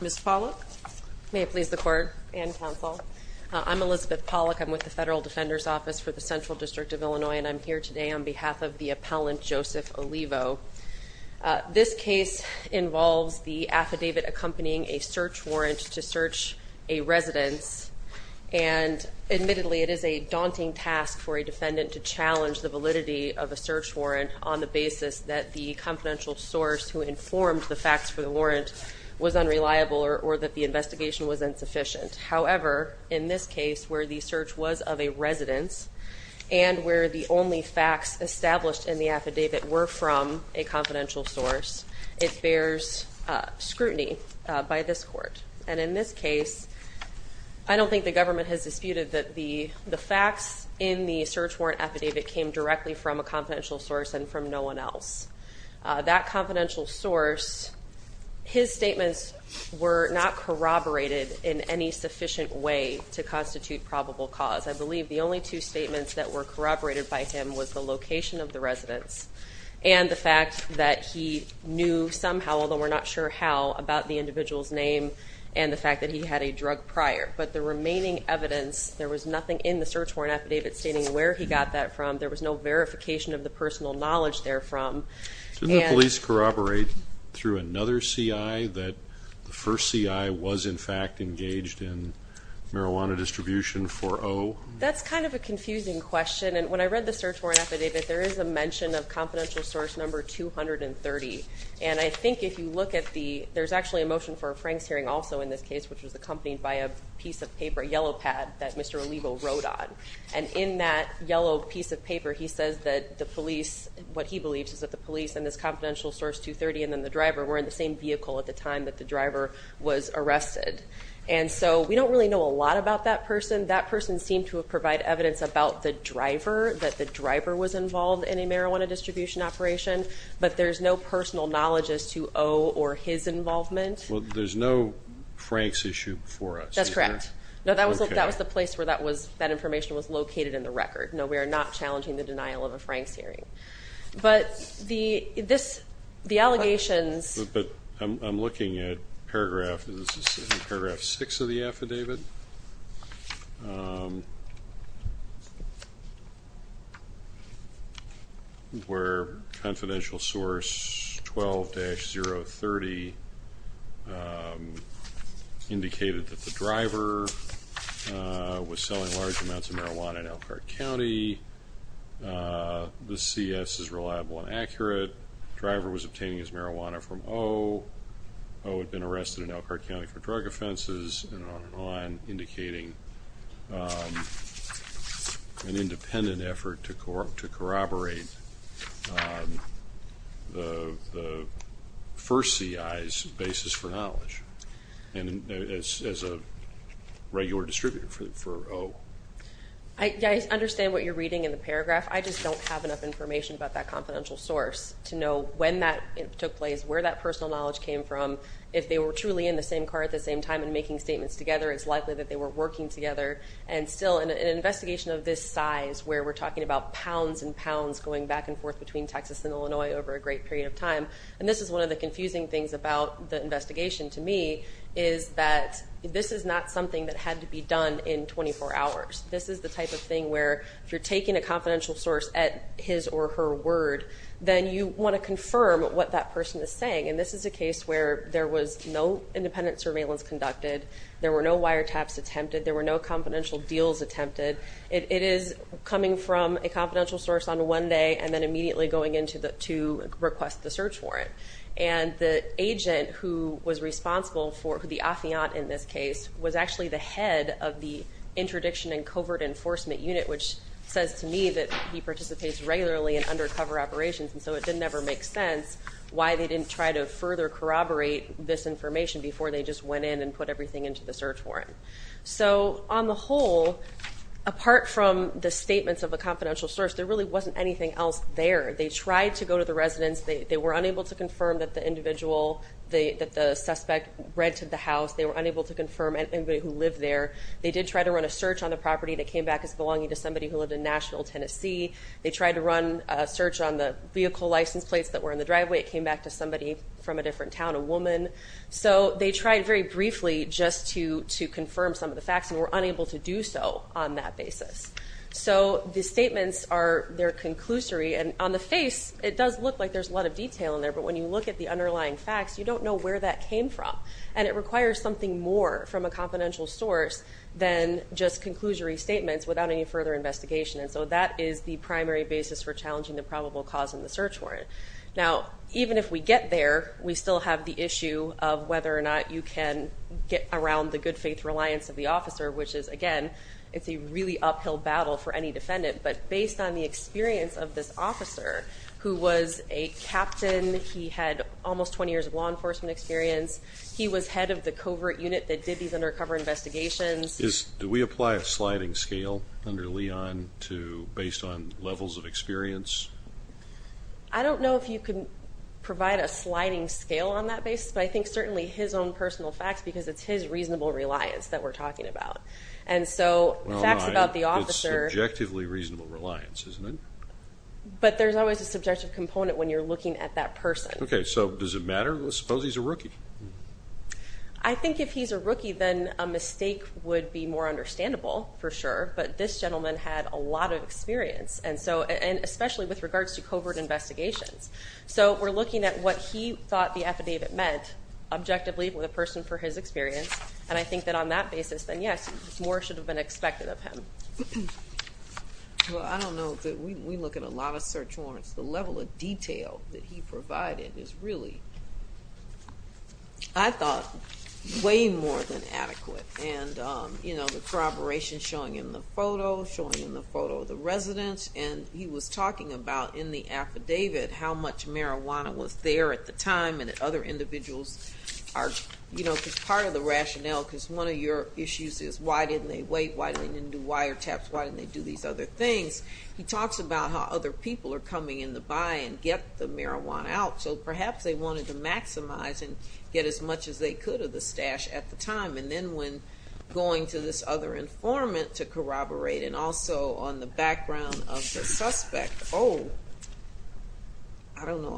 Ms. Pollock, may it please the court and counsel. I'm Elizabeth Pollock. I'm with the Federal Defender's Office for the Central District of Illinois, and I'm here today on behalf of the appellant Joseph Olivo. This case involves the affidavit accompanying a search warrant to search a residence. And admittedly, it is a daunting task for a defendant to challenge the validity of a search warrant on the basis that the confidential source who informed the facts for the warrant was unreliable or that the investigation was insufficient. However, in this case, where the search was of a residence and where the only facts established in the affidavit were from a confidential source, it bears scrutiny by this court. And in this case, I don't think the government has disputed that the facts in the search warrant affidavit came directly from a confidential source and from no one else. That confidential source, his statements were not corroborated in any sufficient way to constitute probable cause. I believe the only two statements that were corroborated by him was the location of the residence and the fact that he knew somehow, although we're not sure how, about the individual's name and the fact that he had a drug prior. But the remaining evidence, there was nothing in the search warrant affidavit stating where he got that from. There was no verification of the personal knowledge therefrom. Did the police corroborate through another CI that the first CI was, in fact, engaged in marijuana distribution for O? That's kind of a confusing question. And when I read the search warrant affidavit, there is a mention of confidential source number 230. And I think if you look at the – there's actually a motion for a Franks hearing also in this case, which was accompanied by a piece of paper, a yellow pad, that Mr. Olivo wrote on. And in that yellow piece of paper, he says that the police – what he believes is that the police and this confidential source 230 and then the driver were in the same vehicle at the time that the driver was arrested. And so we don't really know a lot about that person. That person seemed to have provided evidence about the driver, that the driver was involved in a marijuana distribution operation. But there's no personal knowledge as to O or his involvement. Well, there's no Franks issue before us. That's correct. Okay. No, that was the place where that was – that information was located in the record. No, we are not challenging the denial of a Franks hearing. But the – this – the allegations – But I'm looking at paragraph – this is in paragraph 6 of the affidavit, where confidential source 12-030 indicated that the driver was selling large amounts of marijuana in Elkhart County. The CS is reliable and accurate. The driver was obtaining his marijuana from O. O had been arrested in Elkhart County for drug offenses and on and on, indicating an independent effort to corroborate the first CI's basis for knowledge as a regular distributor for O. I understand what you're reading in the paragraph. I just don't have enough information about that confidential source to know when that took place, where that personal knowledge came from. If they were truly in the same car at the same time and making statements together, it's likely that they were working together. And still, in an investigation of this size, where we're talking about pounds and pounds going back and forth between Texas and Illinois over a great period of time, and this is one of the confusing things about the investigation to me, is that this is not something that had to be done in 24 hours. This is the type of thing where if you're taking a confidential source at his or her word, then you want to confirm what that person is saying. And this is a case where there was no independent surveillance conducted. There were no wiretaps attempted. There were no confidential deals attempted. It is coming from a confidential source on one day and then immediately going in to request the search warrant. And the agent who was responsible for the affiant in this case was actually the head of the Interdiction and Covert Enforcement Unit, which says to me that he participates regularly in undercover operations, and so it didn't ever make sense why they didn't try to further corroborate this information before they just went in and put everything into the search warrant. So on the whole, apart from the statements of a confidential source, there really wasn't anything else there. They tried to go to the residence. They were unable to confirm that the individual, that the suspect rented the house. They were unable to confirm anybody who lived there. They did try to run a search on the property that came back as belonging to somebody who lived in Nashville, Tennessee. They tried to run a search on the vehicle license plates that were in the driveway. It came back to somebody from a different town, a woman. So they tried very briefly just to confirm some of the facts and were unable to do so on that basis. So the statements are, they're conclusory, and on the face, it does look like there's a lot of detail in there, but when you look at the underlying facts, you don't know where that came from, and it requires something more from a confidential source than just conclusory statements without any further investigation, and so that is the primary basis for challenging the probable cause in the search warrant. Now, even if we get there, we still have the issue of whether or not you can get around the good faith reliance of the officer, which is, again, it's a really uphill battle for any defendant, but based on the experience of this officer who was a captain, he had almost 20 years of law enforcement experience, he was head of the covert unit that did these undercover investigations. Do we apply a sliding scale under Leon based on levels of experience? I don't know if you can provide a sliding scale on that basis, but I think certainly his own personal facts, because it's his reasonable reliance that we're talking about, and so facts about the officer. It's subjectively reasonable reliance, isn't it? But there's always a subjective component when you're looking at that person. Okay, so does it matter? Let's suppose he's a rookie. I think if he's a rookie, then a mistake would be more understandable for sure, but this gentleman had a lot of experience, and especially with regards to covert investigations. So we're looking at what he thought the affidavit meant objectively with a person for his experience, and I think that on that basis, then, yes, more should have been expected of him. Well, I don't know. We look at a lot of search warrants. The level of detail that he provided is really, I thought, way more than adequate, and the corroboration showing in the photo, showing in the photo of the resident, and he was talking about in the affidavit how much marijuana was there at the time and that other individuals are, you know, because part of the rationale, because one of your issues is why didn't they wait, why didn't they do wiretaps, why didn't they do these other things. He talks about how other people are coming in to buy and get the marijuana out, so perhaps they wanted to maximize and get as much as they could of the stash at the time, and then when going to this other informant to corroborate, and also on the background of the suspect, oh, I don't know,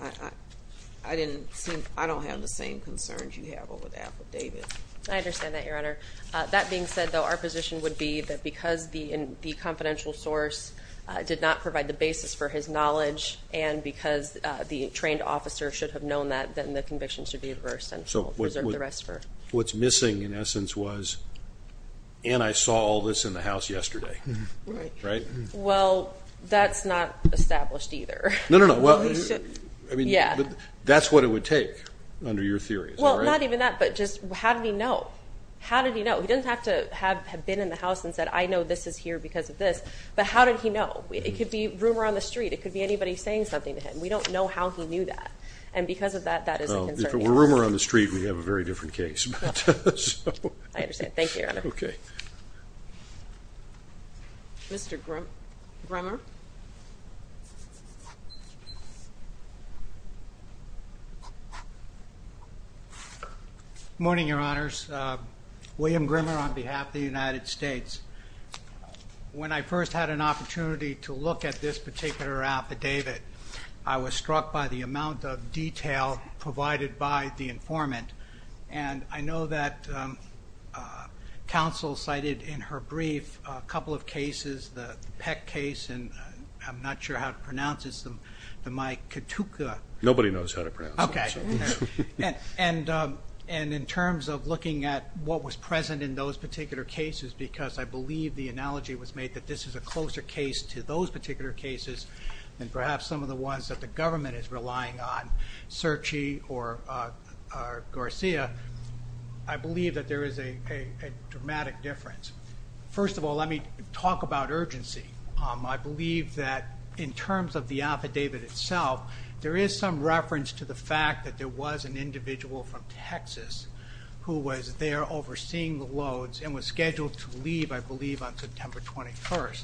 I don't have the same concerns you have over the affidavit. I understand that, Your Honor. That being said, though, our position would be that because the confidential source did not provide the basis for his knowledge and because the trained officer should have known that, then the conviction should be reversed. What's missing in essence was, and I saw all this in the house yesterday, right? Well, that's not established either. No, no, no. I mean, that's what it would take under your theory. Well, not even that, but just how did he know? How did he know? He didn't have to have been in the house and said, I know this is here because of this, but how did he know? It could be rumor on the street. It could be anybody saying something to him. We don't know how he knew that, and because of that, that is a concern. If it were rumor on the street, we'd have a very different case. I understand. Thank you, Your Honor. Okay. Mr. Grimmer. Good morning, Your Honors. William Grimmer on behalf of the United States. When I first had an opportunity to look at this particular affidavit, I was struck by the amount of detail provided by the informant, and I know that counsel cited in her brief a couple of cases, the Peck case, and I'm not sure how to pronounce this, the Miketuka. Nobody knows how to pronounce it. Okay. And in terms of looking at what was present in those particular cases, because I believe the analogy was made that this is a closer case to those particular cases than perhaps some of the ones that the government is relying on, Cerchi or Garcia, I believe that there is a dramatic difference. First of all, let me talk about urgency. I believe that in terms of the affidavit itself, there is some reference to the fact that there was an individual from Texas who was there overseeing the loads and was scheduled to leave, I believe, on September 21st.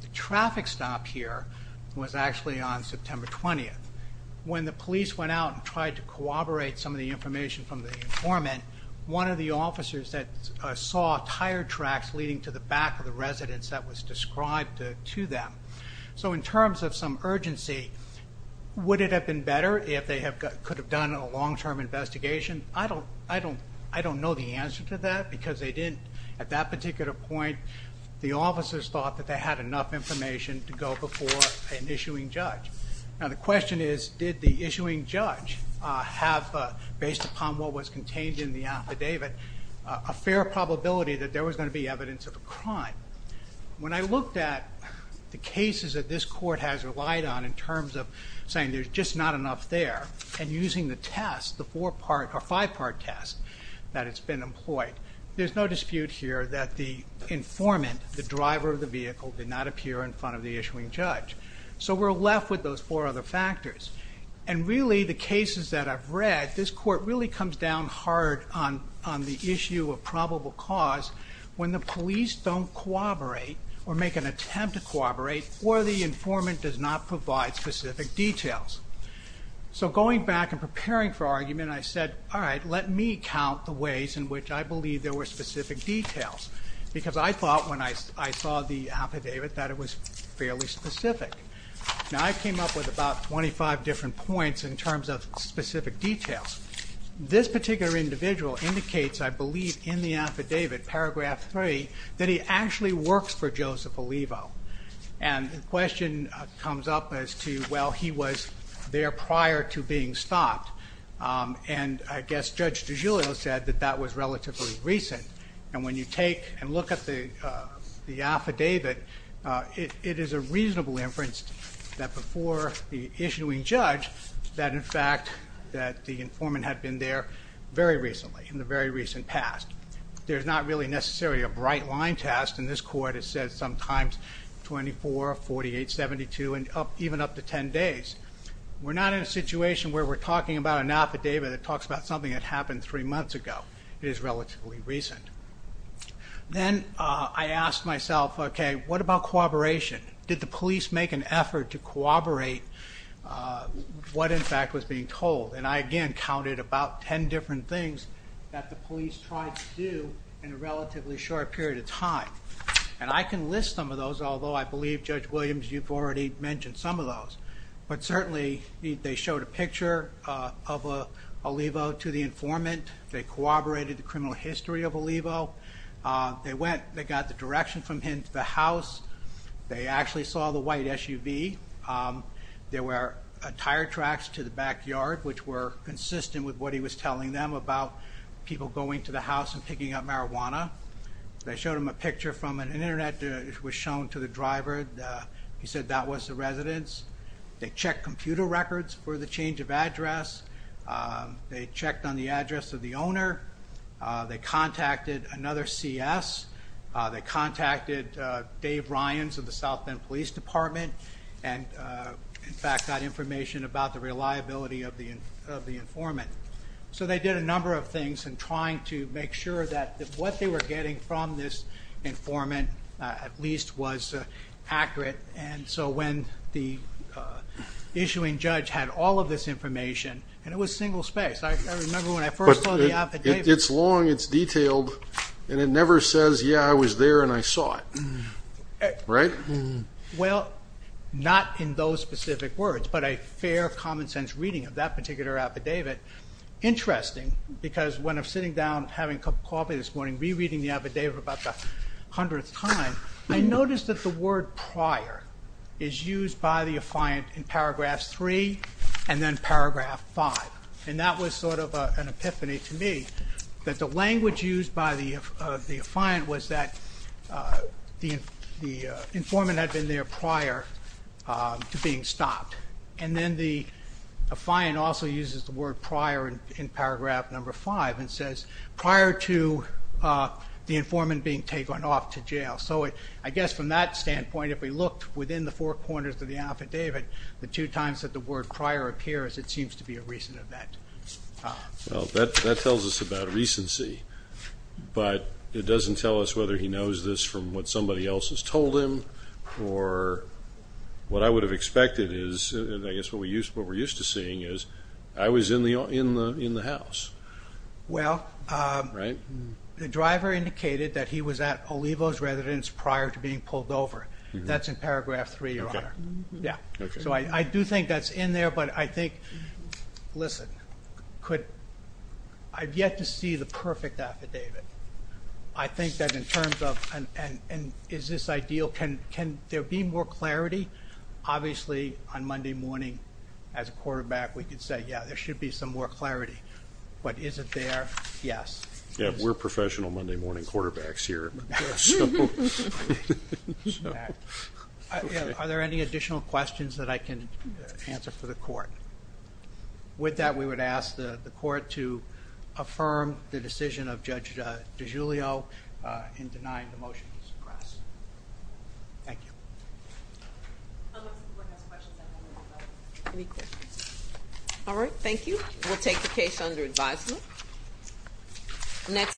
The traffic stop here was actually on September 20th. When the police went out and tried to corroborate some of the information from the informant, one of the officers saw tire tracks leading to the back of the residence that was described to them. So in terms of some urgency, would it have been better if they could have done a long-term investigation? I don't know the answer to that because they didn't, at that particular point, the officers thought that they had enough information to go before an issuing judge. Now the question is, did the issuing judge have, based upon what was contained in the affidavit, a fair probability that there was going to be evidence of a crime? When I looked at the cases that this court has relied on in terms of saying there's just not enough there and using the test, the four-part or five-part test that has been employed, there's no dispute here that the informant, the driver of the vehicle, did not appear in front of the issuing judge. So we're left with those four other factors. And really, the cases that I've read, this court really comes down hard on the issue of probable cause when the police don't corroborate or make an attempt to corroborate or the informant does not provide specific details. So going back and preparing for argument, I said, all right, let me count the ways in which I believe there were specific details. Because I thought when I saw the affidavit that it was fairly specific. Now I came up with about 25 different points in terms of specific details. This particular individual indicates, I believe, in the affidavit, paragraph 3, that he actually works for Joseph Olivo. And the question comes up as to, well, he was there prior to being stopped. And I guess Judge DiGiulio said that that was relatively recent. And when you take and look at the affidavit, it is a reasonable inference that before the issuing judge that, in fact, that the informant had been there very recently, in the very recent past. There's not really necessarily a bright line test. And this court has said sometimes 24, 48, 72, and even up to 10 days. We're not in a situation where we're talking about an affidavit that talks about something that happened three months ago. It is relatively recent. Then I asked myself, okay, what about cooperation? Did the police make an effort to cooperate what, in fact, was being told? And I, again, counted about 10 different things that the police tried to do in a relatively short period of time. And I can list some of those, although I believe Judge Williams, you've already mentioned some of those. But certainly they showed a picture of Olivo to the informant. They corroborated the criminal history of Olivo. They got the direction from him to the house. They actually saw the white SUV. There were tire tracks to the backyard, which were consistent with what he was telling them about people going to the house and picking up marijuana. They showed him a picture from an Internet that was shown to the driver. He said that was the residence. They checked computer records for the change of address. They checked on the address of the owner. They contacted another CS. They contacted Dave Ryans of the South Bend Police Department and, in fact, got information about the reliability of the informant. So they did a number of things in trying to make sure that what they were getting from this informant, at least, was accurate, and so when the issuing judge had all of this information and it was single-spaced. I remember when I first saw the affidavit. It's long, it's detailed, and it never says, yeah, I was there and I saw it. Right? Well, not in those specific words, but a fair, common-sense reading of that particular affidavit. Interesting, because when I'm sitting down having a cup of coffee this morning, rereading the affidavit about the hundredth time, I notice that the word prior is used by the affiant in Paragraph 3 and then Paragraph 5, and that was sort of an epiphany to me, that the language used by the affiant was that the informant had been there prior to being stopped. And then the affiant also uses the word prior in Paragraph 5 and says prior to the informant being taken off to jail. So I guess from that standpoint, if we looked within the four corners of the affidavit, the two times that the word prior appears, it seems to be a recent event. Well, that tells us about recency, but it doesn't tell us whether he knows this from what somebody else has told him or what I would have expected is, I guess what we're used to seeing, is I was in the house. Well, the driver indicated that he was at Olivo's residence prior to being pulled over. That's in Paragraph 3, Your Honor. So I do think that's in there, but I think, listen, I've yet to see the perfect affidavit. I think that in terms of, and is this ideal, can there be more clarity? Obviously, on Monday morning, as a quarterback, we could say, yeah, there should be some more clarity, but is it there? Yes. Yeah, we're professional Monday morning quarterbacks here. Are there any additional questions that I can answer for the court? With that, we would ask the court to affirm the decision of Judge DiGiulio in denying the motion to suppress. Thank you. How much time do we have left? Any questions? All right, thank you. We'll take the case under advisement.